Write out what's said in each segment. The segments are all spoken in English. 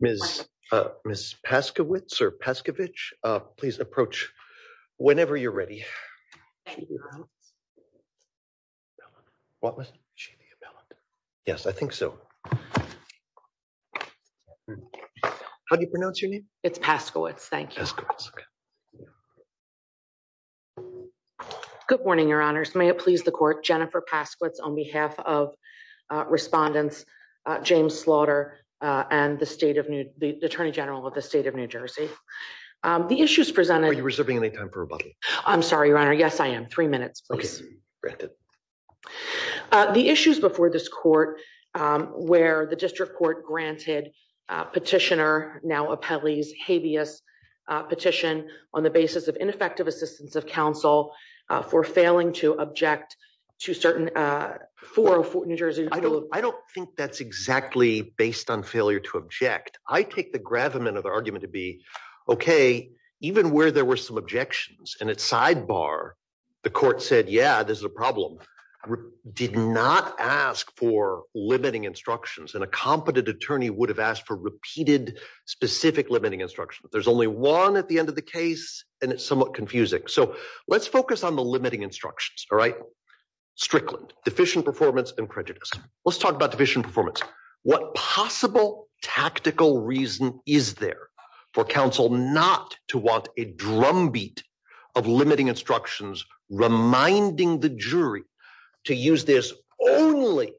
Ms. Paskowitz or Pescovich, please approach whenever you're ready. I think so. How do you pronounce your name? It's Paskowitz. Thank you. Good morning, Your Honors. May it please the Court. Jennifer Paskowitz on behalf of Attorney General James Slaughter and the Attorney General of the State of New Jersey. The issues presented... Are you reserving any time for rebuttal? I'm sorry, Your Honor. Yes, I am. Three minutes, please. Okay. Granted. The issues before this Court where the District Court granted Petitioner, now Appellee's, habeas petition on the basis of ineffective assistance of counsel for failing to object to certain... I don't think that's exactly based on failure to object. I take the gravamen of the argument to be, okay, even where there were some objections and it's sidebar, the Court said, yeah, this is a problem, did not ask for limiting instructions. And a competent attorney would have asked for repeated specific limiting instructions. There's only one at the end of the case and it's somewhat confusing. So let's focus on the limiting instructions, all right? Strickland, deficient performance and prejudice. Let's talk about deficient performance. What possible tactical reason is there for counsel not to want a drumbeat of limiting instructions, reminding the jury to use this only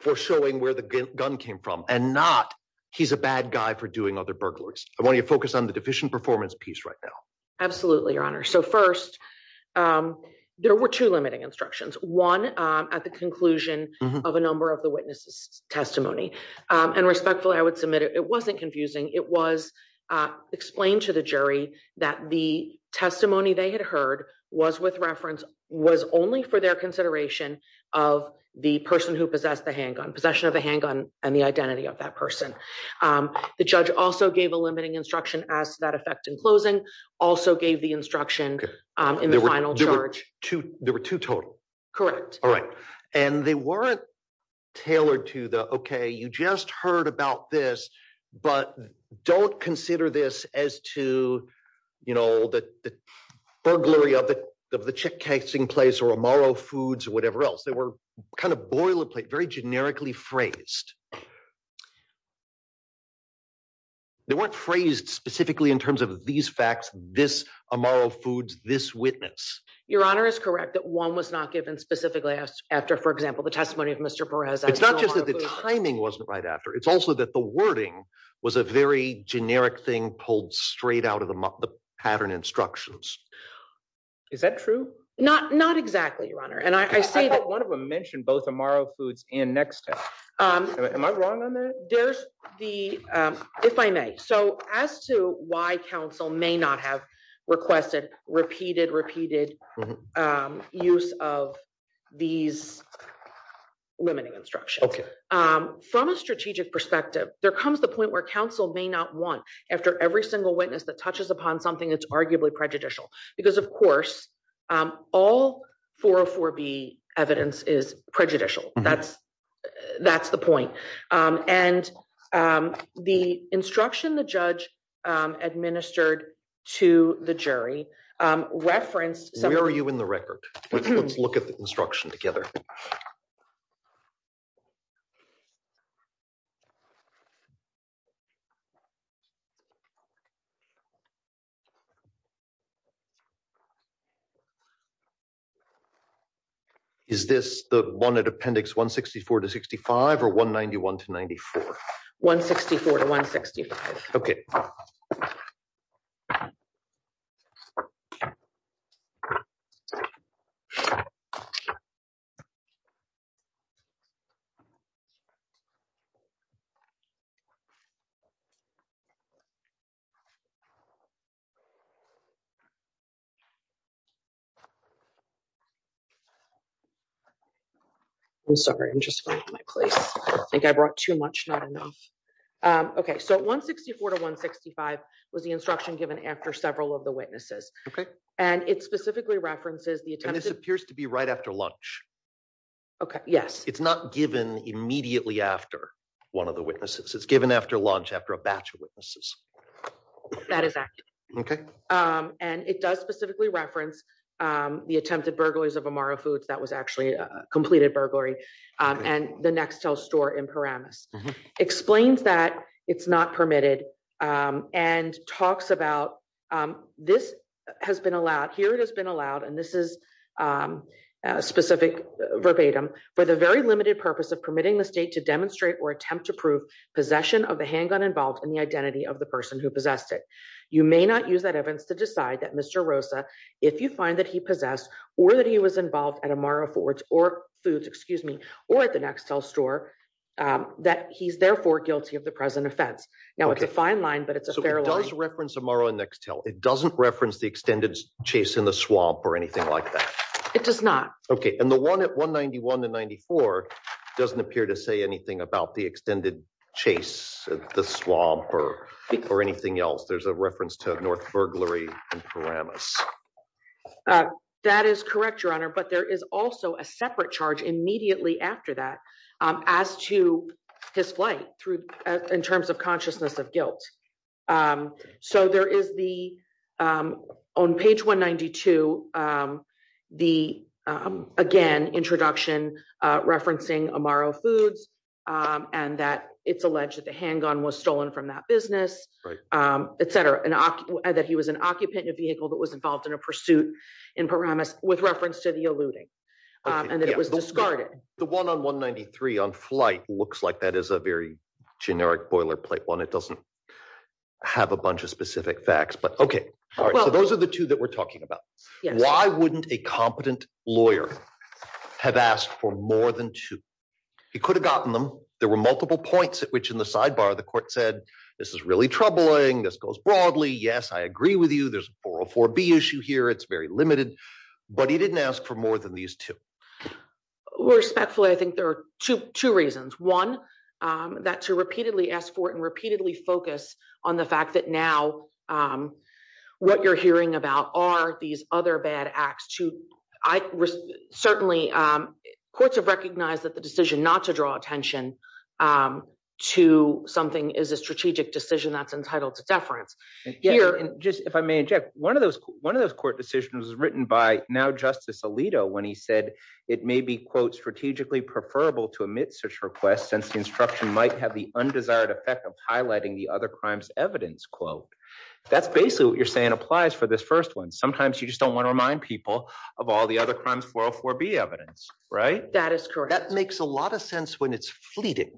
for showing where the gun came from and not, he's a bad guy for doing other burglaries. I want you to focus on the deficient performance piece right now. Absolutely, Your Honor. So first, there were two limiting instructions, one at the conclusion of a number of the witnesses' testimony. And respectfully, I would submit it wasn't confusing. It was explained to the jury that the testimony they had heard was with reference, was only for their consideration of the person who possessed the handgun, possession of a handgun and the identity of that person. The judge also gave a limiting instruction as to that effect in closing, also gave the instruction in the final charge. There were two total? Correct. All right. And they weren't tailored to the, okay, you just heard about this, but don't consider this as to, you know, the burglary of the chick casing place or Amaro Foods or whatever else. They were kind of boilerplate, very generically phrased. They weren't phrased specifically in terms of these facts, this Amaro Foods, this witness. Your Honor is correct that one was not given specifically after, for example, the testimony of Mr. Perez. It's not just that the timing wasn't right after, it's also that the wording was a very generic thing pulled straight out of the pattern instructions. Is that true? Not, not exactly, Your Honor. And I say that one of them mentioned both Amaro Foods and Next Step. Am I wrong on that? There's the, if I may. So as to why counsel may not have requested repeated, repeated use of these limiting instructions. Okay. From a strategic perspective, there comes the point where counsel may not want after every single witness that touches upon something that's arguably prejudicial. Because of course, all 404B evidence is prejudicial. That's, that's the point. And the instruction the judge administered to the jury referenced- Where are you in the record? Let's look at the instruction together. Is this the one at appendix 164 to 65 or 191 to 94? 164 to 165. Okay. I'm sorry. I'm just finding my place. I think I brought too much, not enough. Okay. So 164 to 165 was the instruction given after several of the witnesses. Okay. And it specifically references the attempt- And this appears to be right after lunch. Okay. Yes. It's not given immediately after one of the witnesses. It's given after lunch, after a batch of witnesses. That is accurate. Okay. And it does specifically reference the attempted burglaries of Amaro Foods, that was actually a completed burglary, and the Nextel store in Paramus. Explains that it's not permitted and talks about, this has been allowed, here it has been allowed, and this is specific verbatim, for the very limited purpose of permitting the state to demonstrate or attempt to prove possession of the handgun involved in the identity of the person who possessed it. You may not use that evidence to decide that Mr. Rosa, if you find that he possessed or that he was involved at Amaro Foods or at the Nextel store, that he's therefore guilty of the present offense. Now it's a fine line, but it's a fair line. So it does reference Amaro and Nextel. It doesn't reference the extended chase in the swamp or anything like that. It does not. Okay. And the chase at the swamp or anything else, there's a reference to a North burglary in Paramus. That is correct, Your Honor, but there is also a separate charge immediately after that as to his flight in terms of consciousness of guilt. So there is the, on page 192, the, again, introduction referencing Amaro Foods and that it's alleged that the handgun was stolen from that business, et cetera, and that he was an occupant in a vehicle that was involved in a pursuit in Paramus with reference to the eluding and that it was discarded. The one on 193 on flight looks like that is a very generic boilerplate one. It doesn't have a bunch of specific facts, but okay. All right. So those are the two that we're talking about. Why wouldn't a competent lawyer have asked for more than two? He could have gotten them. There were multiple points at which in the sidebar, the court said, this is really troubling. This goes broadly. Yes, I agree with you. There's a 404B issue here. It's very limited, but he didn't ask for more than these two. Respectfully, I think there are two reasons. One, that to repeatedly ask for it and repeatedly focus on the fact that now what you're hearing about are these other bad acts. Certainly, courts have recognized that the decision not to draw attention to something is a strategic decision that's entitled to deference. Yeah, and just if I may interject, one of those court decisions was written by now Justice Alito when he said it may be, quote, strategically preferable to omit such requests since the might have the undesired effect of highlighting the other crimes evidence, quote. That's basically what you're saying applies for this first one. Sometimes you just don't want to remind people of all the other crimes 404B evidence, right? That is correct. That makes a lot of sense when it's fleeting,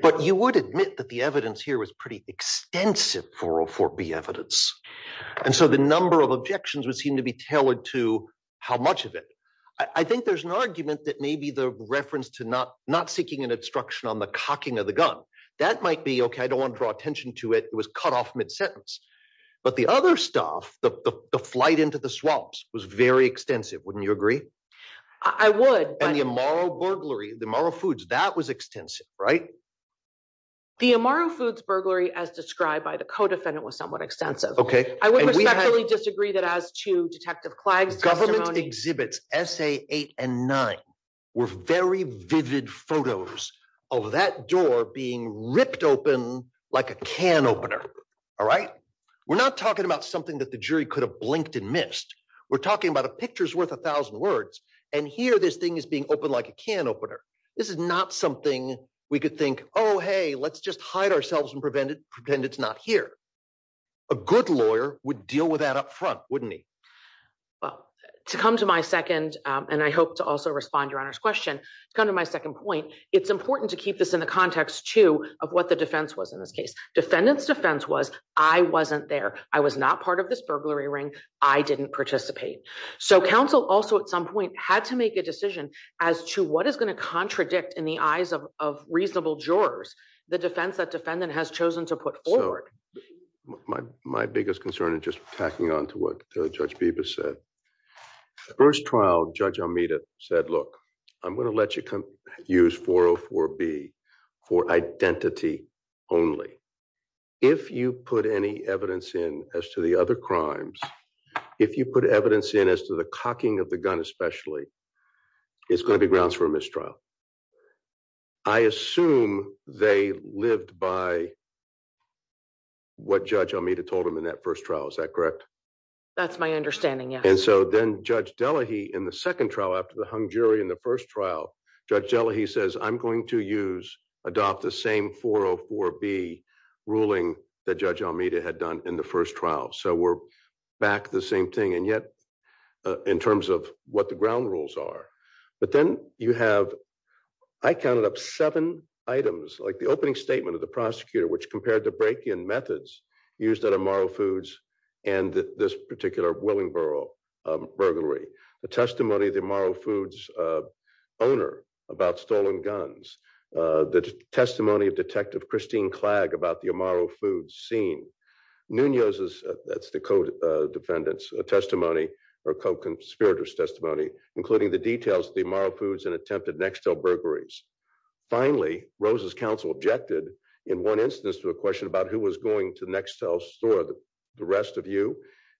but you would admit that the evidence here was pretty extensive 404B evidence. So the number of objections would seem to be tailored to how much of it. I think there's argument that maybe the reference to not seeking an obstruction on the cocking of the gun, that might be, okay, I don't want to draw attention to it. It was cut off mid-sentence. But the other stuff, the flight into the swamps was very extensive. Wouldn't you agree? I would. And the Amaro burglary, the Amaro Foods, that was extensive, right? The Amaro Foods burglary as described by the co-defendant was somewhat extensive. Okay. I would respectfully disagree that as to Detective Clagg's testimony. Exhibits SA8 and 9 were very vivid photos of that door being ripped open like a can opener, all right? We're not talking about something that the jury could have blinked and missed. We're talking about a picture's worth a thousand words. And here, this thing is being opened like a can opener. This is not something we could think, oh, hey, let's just hide ourselves and prevent it, pretend it's not here. A good lawyer would deal with that upfront, wouldn't he? Well, to come to my second, and I hope to also respond to Your Honor's question, to come to my second point, it's important to keep this in the context too of what the defense was in this case. Defendant's defense was, I wasn't there. I was not part of this burglary ring. I didn't participate. So counsel also at some point had to make a decision as to what is going to contradict in the eyes of reasonable jurors the defense that defendant has chosen to put forward. My biggest concern, and just tacking on to what Judge Bibas said, the first trial, Judge Almeida said, look, I'm going to let you use 404B for identity only. If you put any evidence in as to the other crimes, if you put evidence in as to the cocking of the what Judge Almeida told him in that first trial, is that correct? That's my understanding. Yeah. And so then Judge Delahaye in the second trial, after the hung jury in the first trial, Judge Delahaye says, I'm going to use, adopt the same 404B ruling that Judge Almeida had done in the first trial. So we're back to the same thing. And yet in terms of what the ground rules are, but then you have, I counted up seven items, like the opening statement of the prosecutor, which compared the break-in methods used at Amaro Foods and this particular Willingboro burglary, the testimony of the Amaro Foods owner about stolen guns, the testimony of Detective Christine Clagg about the Amaro Foods scene, Nunez's, that's the co-defendant's testimony, or co-conspirator's testimony, including the details of the Amaro Foods and attempted burglaries. Finally, Rose's counsel objected in one instance to a question about who was going to Nextel's store, the rest of you,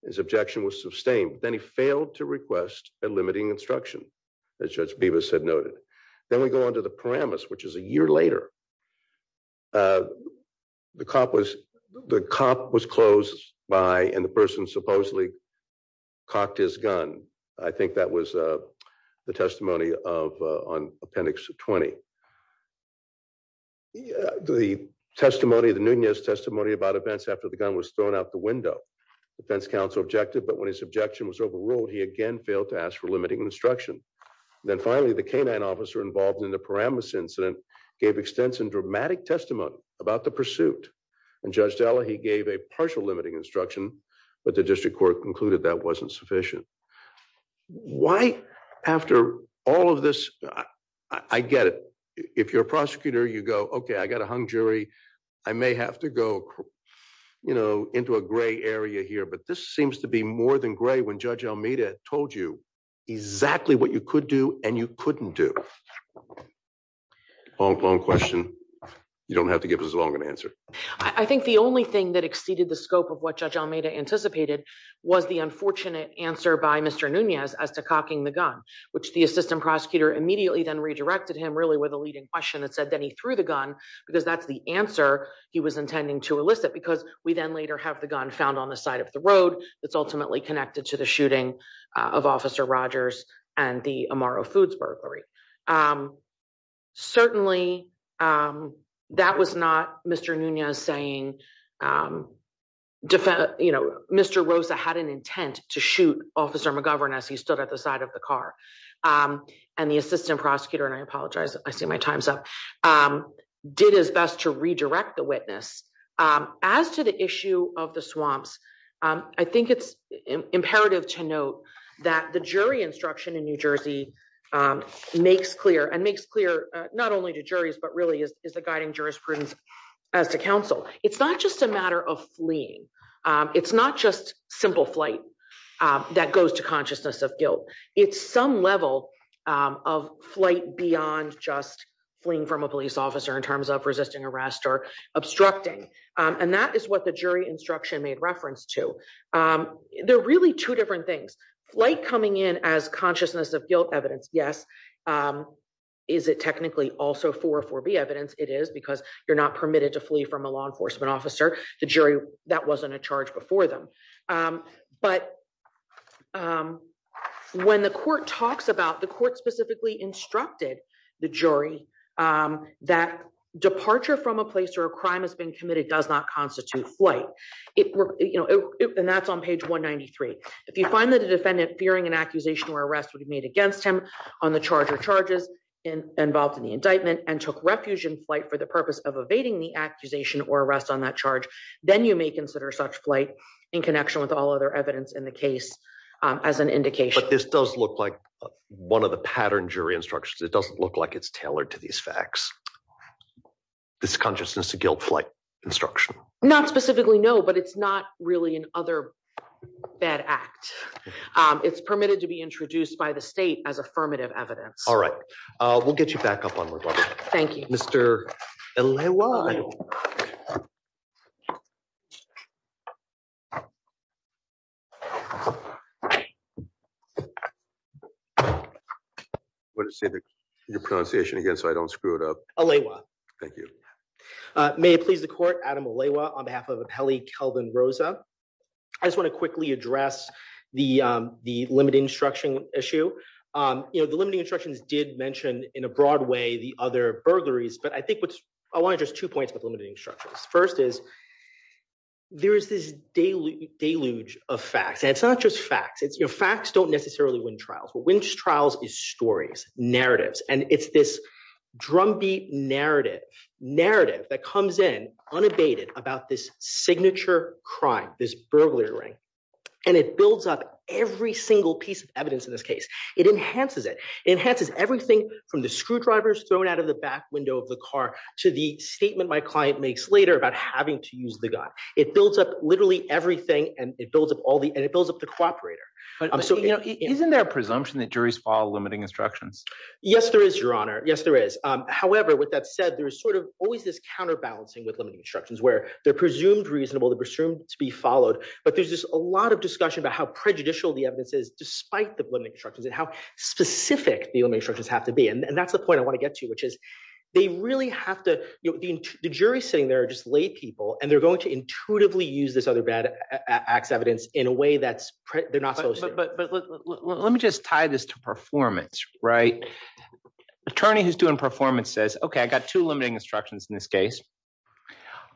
his objection was sustained, but then he failed to request a limiting instruction, as Judge Bibas had noted. Then we go on to the Paramus, which is a year later. The cop was closed by, and the person supposedly cocked his gun. I think that was the testimony of, on Appendix 20. The testimony, the Nunez testimony about events after the gun was thrown out the window. Defense counsel objected, but when his objection was overruled, he again failed to ask for limiting instruction. Then finally, the K-9 officer involved in the Paramus incident gave extensive and dramatic testimony about the pursuit. And Judge Della, he gave a partial limiting instruction, but the district court concluded that wasn't sufficient. Why after all of this, I get it. If you're a prosecutor, you go, okay, I got a hung jury. I may have to go into a gray area here, but this seems to be more than gray when Judge Almeida told you exactly what you could do and you couldn't do. Long, long question. You don't have to give us a longer answer. I think the only thing that exceeded the scope of what Judge Almeida anticipated was the unfortunate answer by Mr. Nunez as to cocking the gun, which the assistant prosecutor immediately then redirected him really with a leading question that said that he threw the gun because that's the answer he was intending to elicit because we then later have the gun found on the side of the road that's ultimately connected to the shooting of Officer Rogers and the Amaro Foods burglary. Certainly, that was not Mr. Nunez saying, um, you know, Mr. Rosa had an intent to shoot Officer McGovern as he stood at the side of the car. And the assistant prosecutor, and I apologize, I see my time's up, did his best to redirect the witness. As to the issue of the swamps, I think it's imperative to note that the jury instruction in New Jersey makes clear, and makes clear not only to juries, but really is the guiding jurisprudence as to counsel. It's not just a matter of fleeing. It's not just simple flight that goes to consciousness of guilt. It's some level of flight beyond just fleeing from a police officer in terms of resisting arrest or obstructing. And that is what the jury instruction made reference to. They're really two different things. Flight coming in as consciousness of guilt evidence, yes, um, is it technically also 404B evidence? It is because you're not permitted to flee from a law enforcement officer. The jury, that wasn't a charge before them. Um, but, um, when the court talks about, the court specifically instructed the jury, um, that departure from a place where a crime has been committed does not constitute flight. It, you know, and that's on page 193. If you find that a charge or charges involved in the indictment and took refuge in flight for the purpose of evading the accusation or arrest on that charge, then you may consider such flight in connection with all other evidence in the case, um, as an indication. But this does look like one of the pattern jury instructions. It doesn't look like it's tailored to these facts. This consciousness of guilt flight instruction. Not specifically, no, but it's not really an other bad act. Um, it's permitted to introduced by the state as affirmative evidence. All right. Uh, we'll get you back up on. Thank you, Mr. I don't know what to say. Your pronunciation again, so I don't screw it up. Thank you. Uh, may it please the court Adam on behalf of Kelly Kelvin Rosa. I just want to quickly address the, the limiting instruction issue. Um, you know, the limiting instructions did mention in a broad way, the other burglaries, but I think what I want to just two points with limiting structures. First is there is this daily deluge of facts and it's not just facts. It's your facts don't necessarily win trials, but when trials is stories narratives, and it's this drumbeat narrative narrative that comes in unabated about this signature crime, this burglary ring, and it builds up every single piece of evidence in this case, it enhances it, enhances everything from the screwdrivers thrown out of the back window of the car to the statement my client makes later about having to use the gun. It builds up literally everything and it builds up all the, and it builds up the cooperator. Um, so isn't there a presumption that juries fall limiting instructions? Yes, there is your honor. Yes, there is. Um, however, with that said, there was sort of always this counterbalancing with limiting instructions where they're presumed reasonable, they're presumed to be followed, but there's just a lot of discussion about how prejudicial the evidence is despite the limiting structures and how specific the only instructions have to be. And that's the point I want to get to, which is they really have to, you know, the jury sitting there are just lay people and they're going to intuitively use this other bad acts evidence in a way that's, they're not supposed to. But let me just tie this to performance, right? Attorney who's doing performance says, okay, I got two limiting instructions in this case.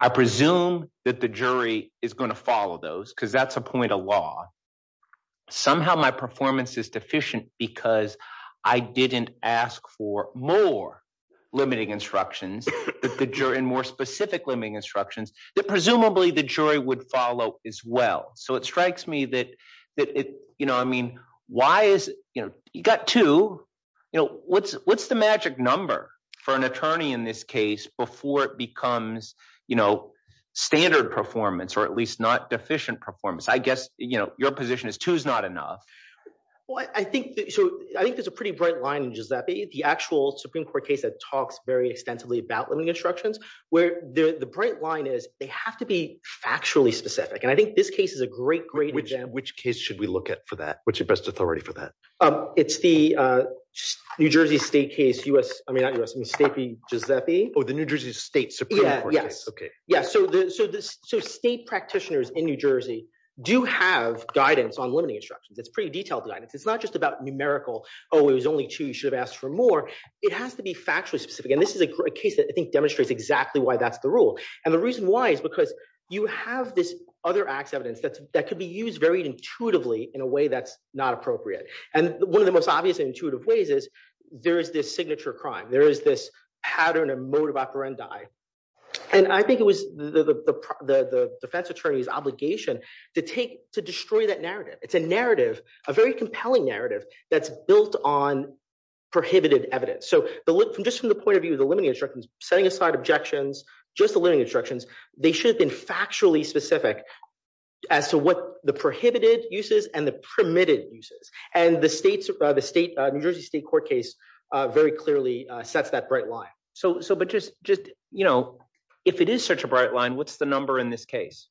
I presume that the is going to follow those because that's a point of law. Somehow my performance is deficient because I didn't ask for more limiting instructions that the jury and more specific limiting instructions that presumably the jury would follow as well. So it strikes me that, that it, you know, I mean, why is, you know, you got to, you know, what's, what's the magic number for an attorney in this before it becomes, you know, standard performance or at least not deficient performance? I guess, you know, your position is two is not enough. Well, I think, so I think there's a pretty bright line in Giuseppe, the actual Supreme court case that talks very extensively about limiting instructions where the bright line is they have to be factually specific. And I think this case is a great, great example. Which case should we look at for that? What's your best Giuseppe? Oh, the New Jersey state Supreme court case. Okay. Yeah. So the, so the state practitioners in New Jersey do have guidance on limiting instructions. It's pretty detailed guidance. It's not just about numerical. Oh, it was only two. You should have asked for more. It has to be factually specific. And this is a case that I think demonstrates exactly why that's the rule. And the reason why is because you have this other acts evidence that's, that could be used very intuitively in a way that's not appropriate. And one of the most obvious intuitive ways is there is this signature crime. There is this pattern and mode of operandi. And I think it was the, the, the, the, the defense attorney's obligation to take, to destroy that narrative. It's a narrative, a very compelling narrative that's built on prohibited evidence. So the, just from the point of view of the limiting instructions, setting aside objections, just the limiting instructions, they should have been factually specific as to what the prohibited uses and the permitted uses. And the states, the state New Jersey state court case very clearly sets that bright line. So, so, but just, just, you know, if it is such a bright line, what's the number in this case?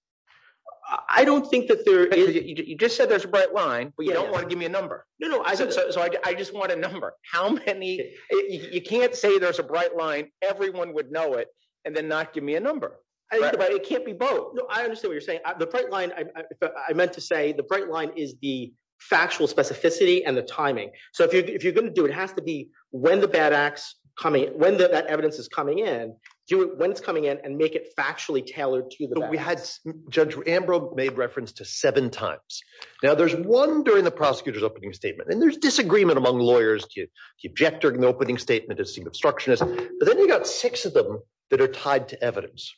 I don't think that there is, you just said there's a bright line, but you don't want to give me a number. No, no. So I just want a number. How many, you can't say there's a bright line. Everyone would know it and then not give me a number, but it can't be both. No, I understand what you're saying. The bright line, I meant to say the bright line is the factual specificity and the timing. So if you're, if you're going to do, it has to be when the bad acts coming, when the evidence is coming in, do it when it's coming in and make it factually tailored to the. We had judge Ambrose made reference to seven times. Now there's one during the prosecutor's opening statement and there's disagreement among lawyers to object during the opening statement but then you got six of them that are tied to evidence.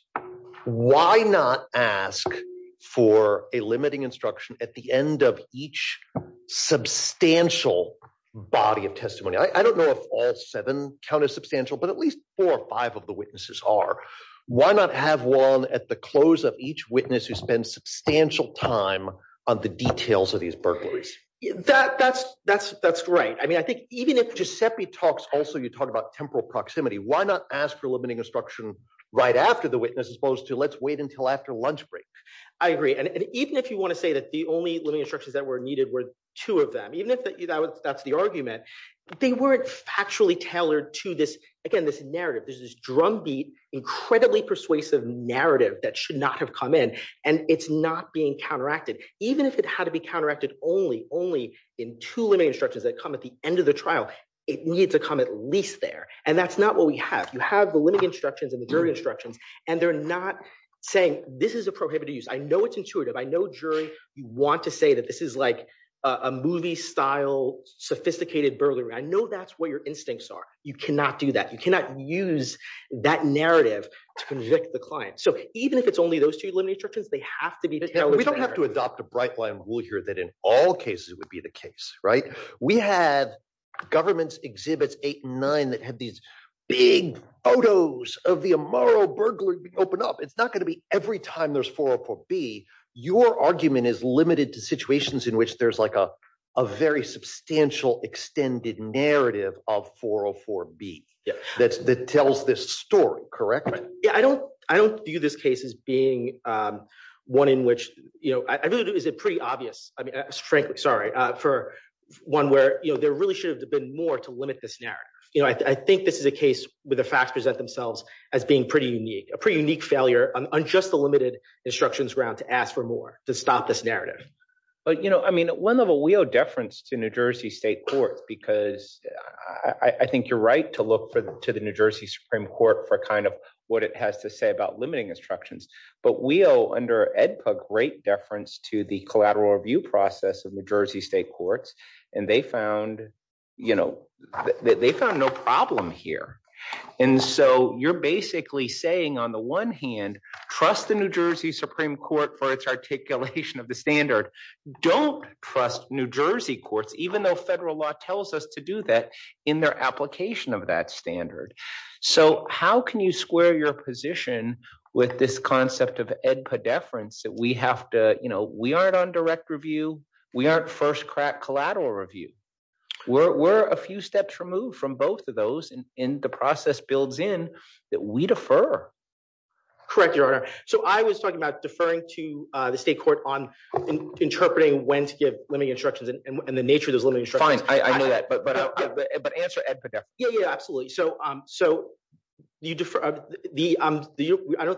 Why not ask for a limiting instruction at the end of each substantial body of testimony? I don't know if all seven count as substantial, but at least four or five of the witnesses are. Why not have one at the close of each witness who spends substantial time on the details of these burglaries? That, that's, that's, that's right. I mean, I think even if Giuseppe talks also, you talk about temporal proximity, why not ask for limiting instruction right after the witness as opposed to let's wait until after lunch break. I agree. And even if you want to say that the only limiting instructions that were needed were two of them, even if that's the argument, they weren't factually tailored to this. Again, this narrative, this is drumbeat, incredibly persuasive narrative that should not have come in and it's not being counteracted. Even if it had to be counteracted only, only in two limiting instructions that come at the end of the trial, it needs to come at least there. And that's not what we have. You have the limiting instructions and the jury instructions, and they're not saying this is a prohibited use. I know it's intuitive. I know jury, you want to say that this is like a movie style, sophisticated burglary. I know that's what your instincts are. You cannot do that. You cannot use that narrative to convict the client. So even if it's only those two limiting instructions, they have to be tailored. We don't have to adopt a right-blind rule here that in all cases would be the case, right? We have governments exhibits eight and nine that have these big photos of the Amaro burglary open up. It's not going to be every time there's 404B. Your argument is limited to situations in which there's like a very substantial extended narrative of 404B that tells this story, correct? I don't view this case as being one in which, is it pretty obvious? I mean, frankly, sorry, for one where there really should have been more to limit this narrative. I think this is a case where the facts present themselves as being pretty unique, a pretty unique failure on just the limited instructions ground to ask for more, to stop this narrative. But I mean, one level, we owe deference to New Jersey state courts because I think you're right to look to the New Jersey Supreme Court for kind what it has to say about limiting instructions. But we owe under Edpug great deference to the collateral review process of New Jersey state courts. And they found no problem here. And so you're basically saying on the one hand, trust the New Jersey Supreme Court for its articulation of the standard. Don't trust New Jersey courts, even though federal law tells us to do that in their application of that standard. So how can you square your position with this concept of Edpug deference that we have to, you know, we aren't on direct review. We aren't first crack collateral review. We're a few steps removed from both of those and in the process builds in that we defer. Correct your honor. So I was talking about deferring to the state court on interpreting when to give limiting instructions and the nature of Fine. I know that, but answer Edpug there. Yeah, absolutely. So I don't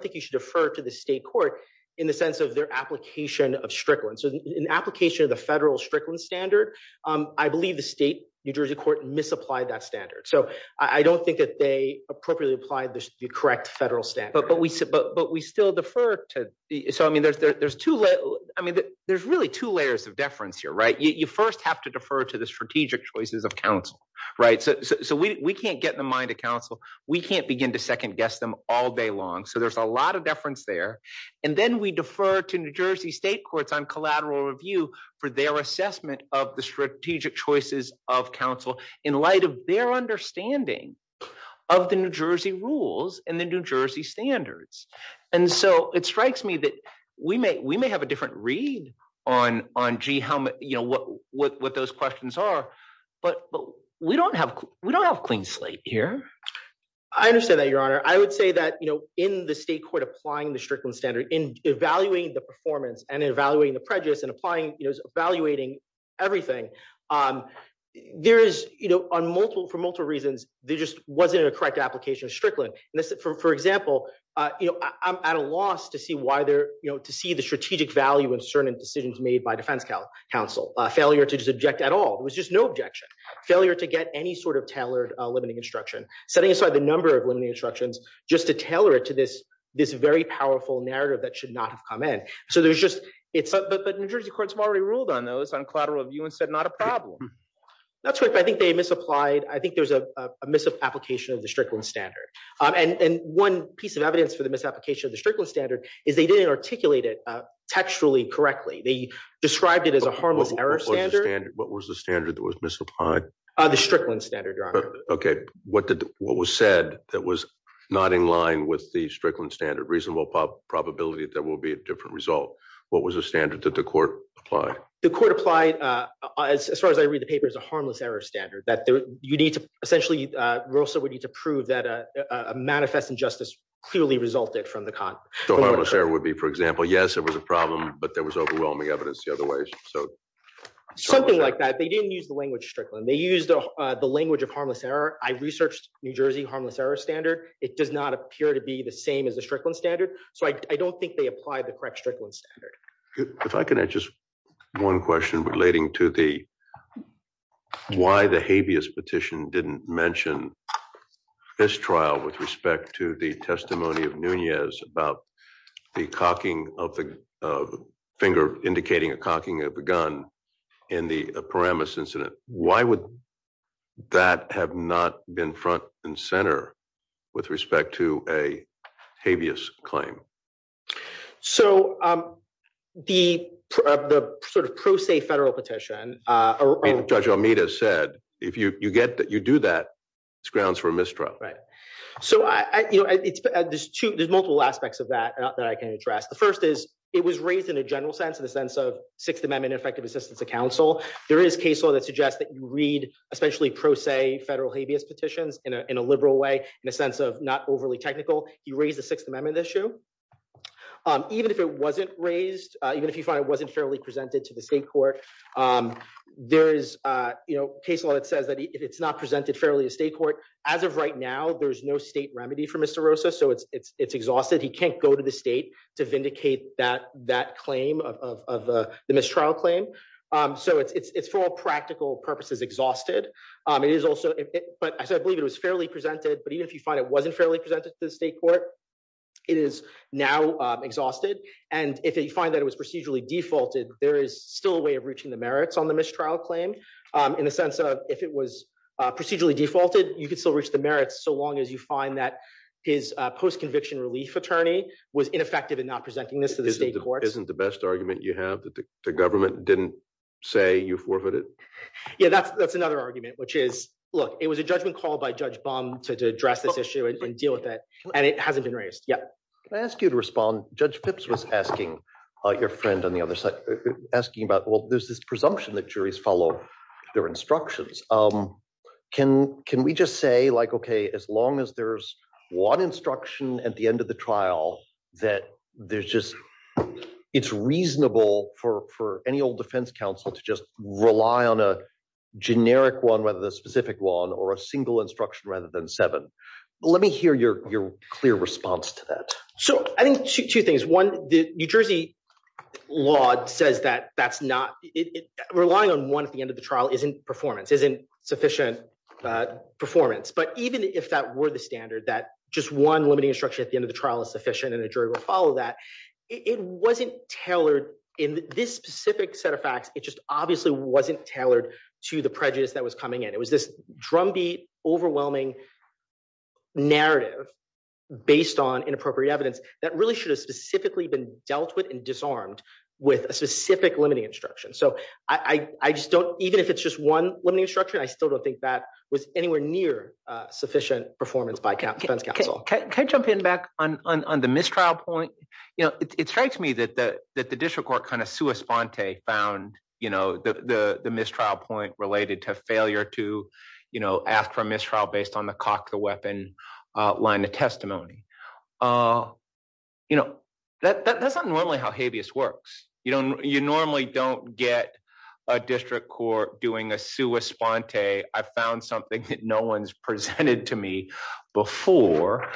think you should defer to the state court in the sense of their application of Strickland. So in application of the federal Strickland standard, I believe the state New Jersey court misapplied that standard. So I don't think that they appropriately applied the correct federal standard. But we still defer to the, so, I mean, there's really two layers of deference here, right? You first have to defer to the strategic choices of council, right? So we can't get in the mind of council. We can't begin to second guess them all day long. So there's a lot of deference there. And then we defer to New Jersey state courts on collateral review for their assessment of the strategic choices of council in light of their understanding of the New Jersey rules and the New Jersey standards. And so it strikes me that we may, we may have a different read on, on G helmet, you know, what, what, what those questions are, but, but we don't have, we don't have clean slate here. I understand that your honor. I would say that, you know, in the state court applying the Strickland standard in evaluating the performance and evaluating the prejudice and applying, you know, evaluating everything there is, you know, on multiple, for multiple reasons, there just wasn't a correct application of Strickland. And this, for example, you know, I'm at a loss to see why they're, you know, to see the strategic value of certain decisions made by council failure to just object at all. It was just no objection failure to get any sort of tailored limiting instruction, setting aside the number of limiting instructions, just to tailor it to this, this very powerful narrative that should not have come in. So there's just, it's but New Jersey courts have already ruled on those on collateral view and said, not a problem. That's what I think they misapplied. I think there's a misapplication of the Strickland standard. And one piece of evidence for the misapplication of the Strickland standard is they didn't articulate it textually correctly. They described it as a harmless error standard. What was the standard that was misapplied? The Strickland standard, your honor. Okay. What did, what was said that was not in line with the Strickland standard reasonable probability that will be a different result? What was the standard that the court applied? The court applied, as far as I read the paper is a harmless error standard that you need to essentially, we also would need to prove that a manifest injustice clearly resulted from the con. So harmless error would be, for example, yes, it was a problem, but there was overwhelming evidence the other ways. So. Something like that. They didn't use the language Strickland. They used the language of harmless error. I researched New Jersey harmless error standard. It does not appear to be the same as the Strickland standard. So I don't think they applied the correct Strickland standard. If I can add just one question relating to the, why the habeas petition didn't mention this trial with respect to the testimony of Nunez about the cocking of the finger, indicating a cocking of a gun in the Paramus incident. Why would that have not been front and center with respect to a habeas claim? So the sort of pro se federal petition. Judge Almeida said, if you get that, you do that. It's grounds for a mistrial. Right. So I, you know, there's two, there's multiple aspects of that that I can address. The first is it was raised in a general sense of the sense of sixth amendment effective assistance to counsel. There is case law that suggests that you read, especially pro se federal habeas petitions in a liberal way, in a sense of not overly technical, you raise the sixth amendment issue. Even if it wasn't raised, even if you find it wasn't fairly presented to the state court, there is, you know, case law that says that if it's not presented fairly to state court, as of right now, there's no state remedy for Mr. Rosa. So it's, it's, it's exhausted. He can't go to the state to vindicate that, that claim of, of, of the mistrial claim. So it's, it's, it's for all practical purposes, exhausted. It is also, but I said, I believe it was fairly presented, but even if you find it wasn't fairly presented to the state court, it is now exhausted. And if you find that it was procedurally defaulted, there is still a way of reaching the merits on the mistrial claim. In the sense of if it was procedurally defaulted, you could still reach the merits. So long as you find that his post-conviction relief attorney was ineffective in not presenting this to the state court. Isn't the best argument you have that the government didn't say you forfeited. Yeah, that's, that's another argument, which is, look, it was a judgment called by judge bomb to address this issue and deal with it. And it hasn't been raised yet. Can I ask you to respond? Judge Pipps was asking your friend on the other side, asking about, well, there's this presumption that juries follow their instructions. Can, can we just say like, okay, as long as there's one instruction at the end of the trial, that there's just, it's reasonable for, for any old defense counsel to just rely on a generic one, whether the specific one or a single instruction rather than seven. Let me hear your, your clear response to that. So I think two things. One, the New Jersey law says that that's not relying on one at the end of the trial isn't performance, isn't sufficient performance. But even if that were the standard that just one limiting instruction at the end of the trial is sufficient and a jury will follow that it wasn't tailored in this specific set of facts. It just obviously wasn't tailored to the prejudice that was coming in. It was this overwhelming narrative based on inappropriate evidence that really should have specifically been dealt with and disarmed with a specific limiting instruction. So I, I just don't, even if it's just one limiting instruction, I still don't think that was anywhere near sufficient performance by defense counsel. Can I jump in back on, on, on the mistrial point? You know, it strikes me that the, that the district court kind of sua sponte found, you know, the, the, the mistrial point related to failure to, you know, ask for a mistrial based on the cock, the weapon line of testimony. You know, that, that, that's not normally how habeas works. You don't, you normally don't get a district court doing a sua sponte. I found something that no one's presented to me before.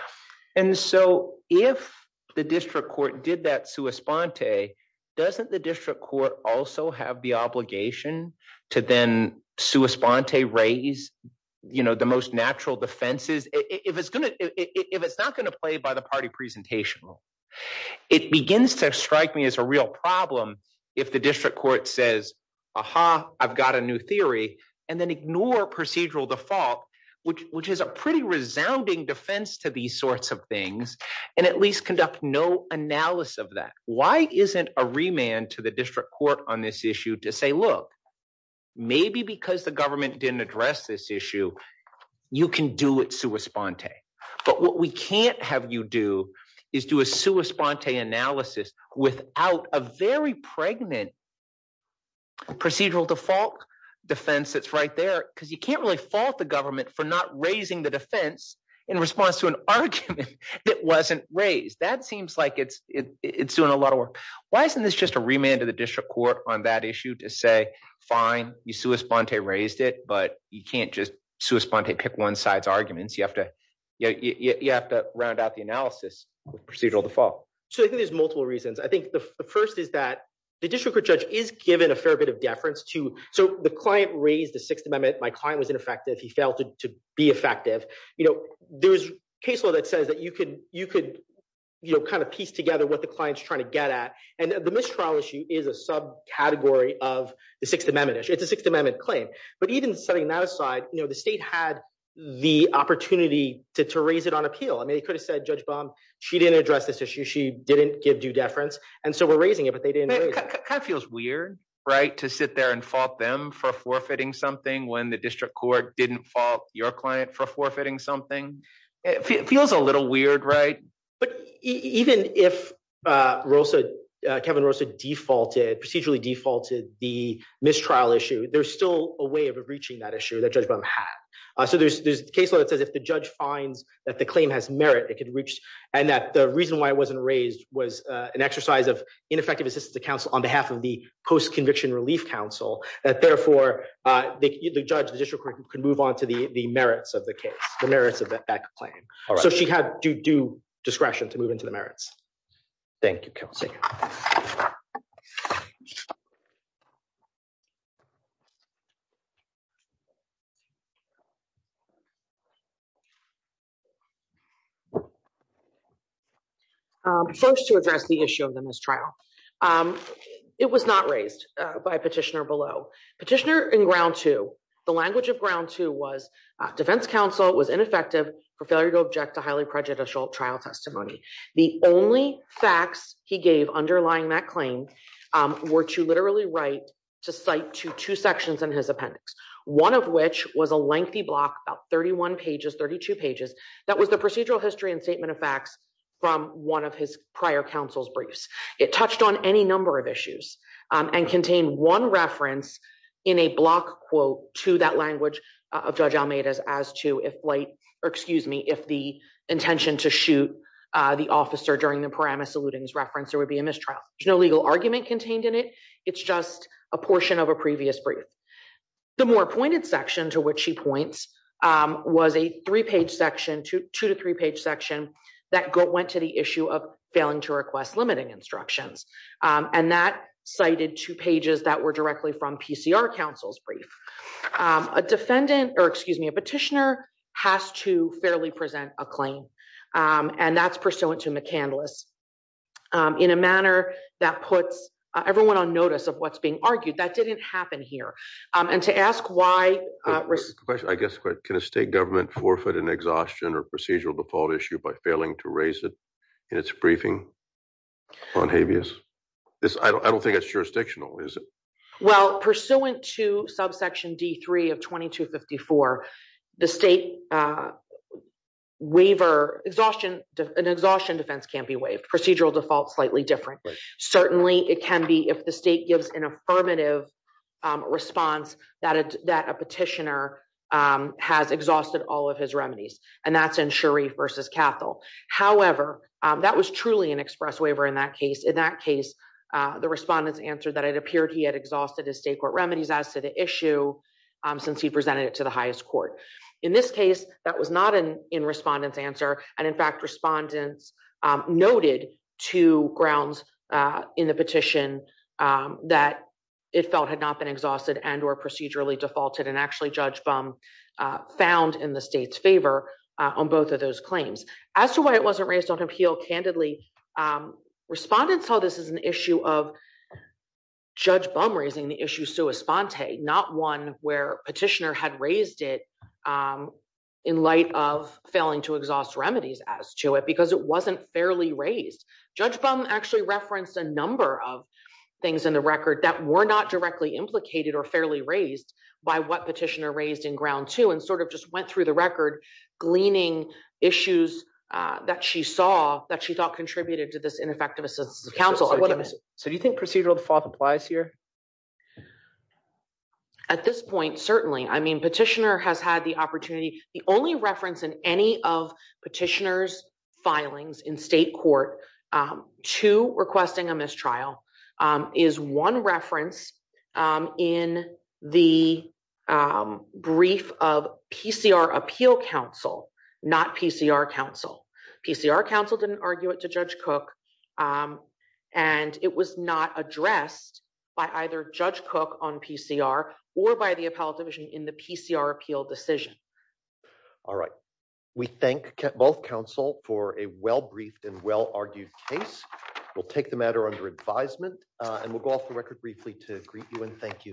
And so if the district court did that sua sponte, doesn't the district court also have the obligation to then sua sponte raise, you know, the most natural defenses. If it's going to, if it's not going to play by the party presentation, it begins to strike me as a real problem. If the district court says, aha, I've got a new theory and then ignore procedural default, which, which is a pretty resounding defense to these sorts of things. And at least conduct no analysis of that. Why isn't a remand to the district court on this issue to say, look, maybe because the government didn't address this issue, you can do it sua sponte. But what we can't have you do is do a sua sponte analysis without a very pregnant procedural default defense. That's right there. Cause you can't really fault the government for not raising the defense in response to an argument that wasn't raised. That seems like it's, it's doing a lot of work. Why isn't this just a remand to the district court on that issue to say, fine, you sua sponte raised it, but you can't just sua sponte pick one side's arguments. You have to, you know, you have to round out the analysis of procedural default. So I think there's multiple reasons. I think the first is that the district court judge is given a fair bit of deference to, so the client raised the sixth amendment. My client was ineffective. He failed to be effective. You know, there's case law that says that you could, you could, you know, kind of piece together what the client's trying to get at. And the mistrial issue is a sub category of the sixth amendment issue. It's a sixth amendment claim, but even setting that aside, you know, the state had the opportunity to, to raise it on appeal. I mean, they could have said judge bomb, she didn't address this issue. She didn't give due deference. And so we're raising it, but they didn't. It kind of feels weird, right? To sit there and fault them for forfeiting something when the district court didn't fault your client for forfeiting something. It feels a little weird, right? But even if Rosa, Kevin Rosa defaulted, procedurally defaulted the mistrial issue, there's still a way of reaching that issue that judge bomb had. So there's, there's case law that says if the judge finds that the claim has merit, it could reach. And that the reason why it wasn't raised was an exercise of ineffective assistance to counsel on behalf of the post conviction relief council that therefore the judge, the district court could move on to the merits of the case, the merits of that claim. So she had due discretion to move into the merits. Thank you, Kelsey. First to address the issue of the mistrial. It was not raised by petitioner below petitioner The language of ground two was defense counsel was ineffective for failure to object to highly prejudicial trial testimony. The only facts he gave underlying that claim were to literally right to cite to two sections in his appendix. One of which was a lengthy block about 31 pages, 32 pages. That was the procedural history and statement of facts from one of his prior counsel's briefs. It touched on any number of issues and contain one reference in a block quote to that language of judge Almeida's as to if light or excuse me, if the intention to shoot the officer during the parameter saluting his reference, there would be a mistrial. There's no legal argument contained in it. It's just a portion of a previous brief. The more pointed section to which she points was a three page section to two to three page section that went to the issue of failing to request limiting instructions. And that cited two pages that were directly from PCR counsel's brief, a defendant or excuse me, a petitioner has to fairly present a claim. And that's pursuant to McCandless in a manner that puts everyone on notice of what's being argued that didn't happen here. And to ask why I guess, can a state government forfeit an exhaustion or procedural default issue by failing to raise it in its briefing on habeas? I don't think it's jurisdictional, is it? Well, pursuant to subsection D3 of 2254, the state waiver exhaustion, an exhaustion defense can't be waived. Procedural default slightly different. Certainly it can be if the state gives an affirmative response that a petitioner has exhausted all of his remedies. And that's in Sharif versus Cathol. However, that was truly an express waiver in that case. In that case, the respondents answered that it appeared he had exhausted his state court remedies as to the issue since he presented it to the highest court. In this case, that was not an in respondents answer. And in fact, respondents noted two grounds in the petition that it felt had not been exhausted and or procedurally defaulted and Judge Bum found in the state's favor on both of those claims. As to why it wasn't raised on appeal candidly, respondents saw this as an issue of Judge Bum raising the issue sui sponte, not one where petitioner had raised it in light of failing to exhaust remedies as to it because it wasn't fairly raised. Judge Bum actually referenced a number of things in the record that were not directly implicated or fairly raised by what petitioner raised in ground two and sort of just went through the record gleaning issues that she saw that she thought contributed to this ineffective assistance of counsel. So do you think procedural default applies here? At this point, certainly. I mean, petitioner has had the opportunity. The only reference in any of petitioner's filings in state court to requesting a mistrial is one reference in the brief of PCR appeal counsel, not PCR counsel. PCR counsel didn't argue it to Judge Cook, and it was not addressed by either Judge Cook on PCR or by the appellate division in the PCR appeal decision. All right. We thank both counsel for a well-briefed and well-argued case. We'll take the matter under advisement and we'll go off the record briefly to greet you and thank you.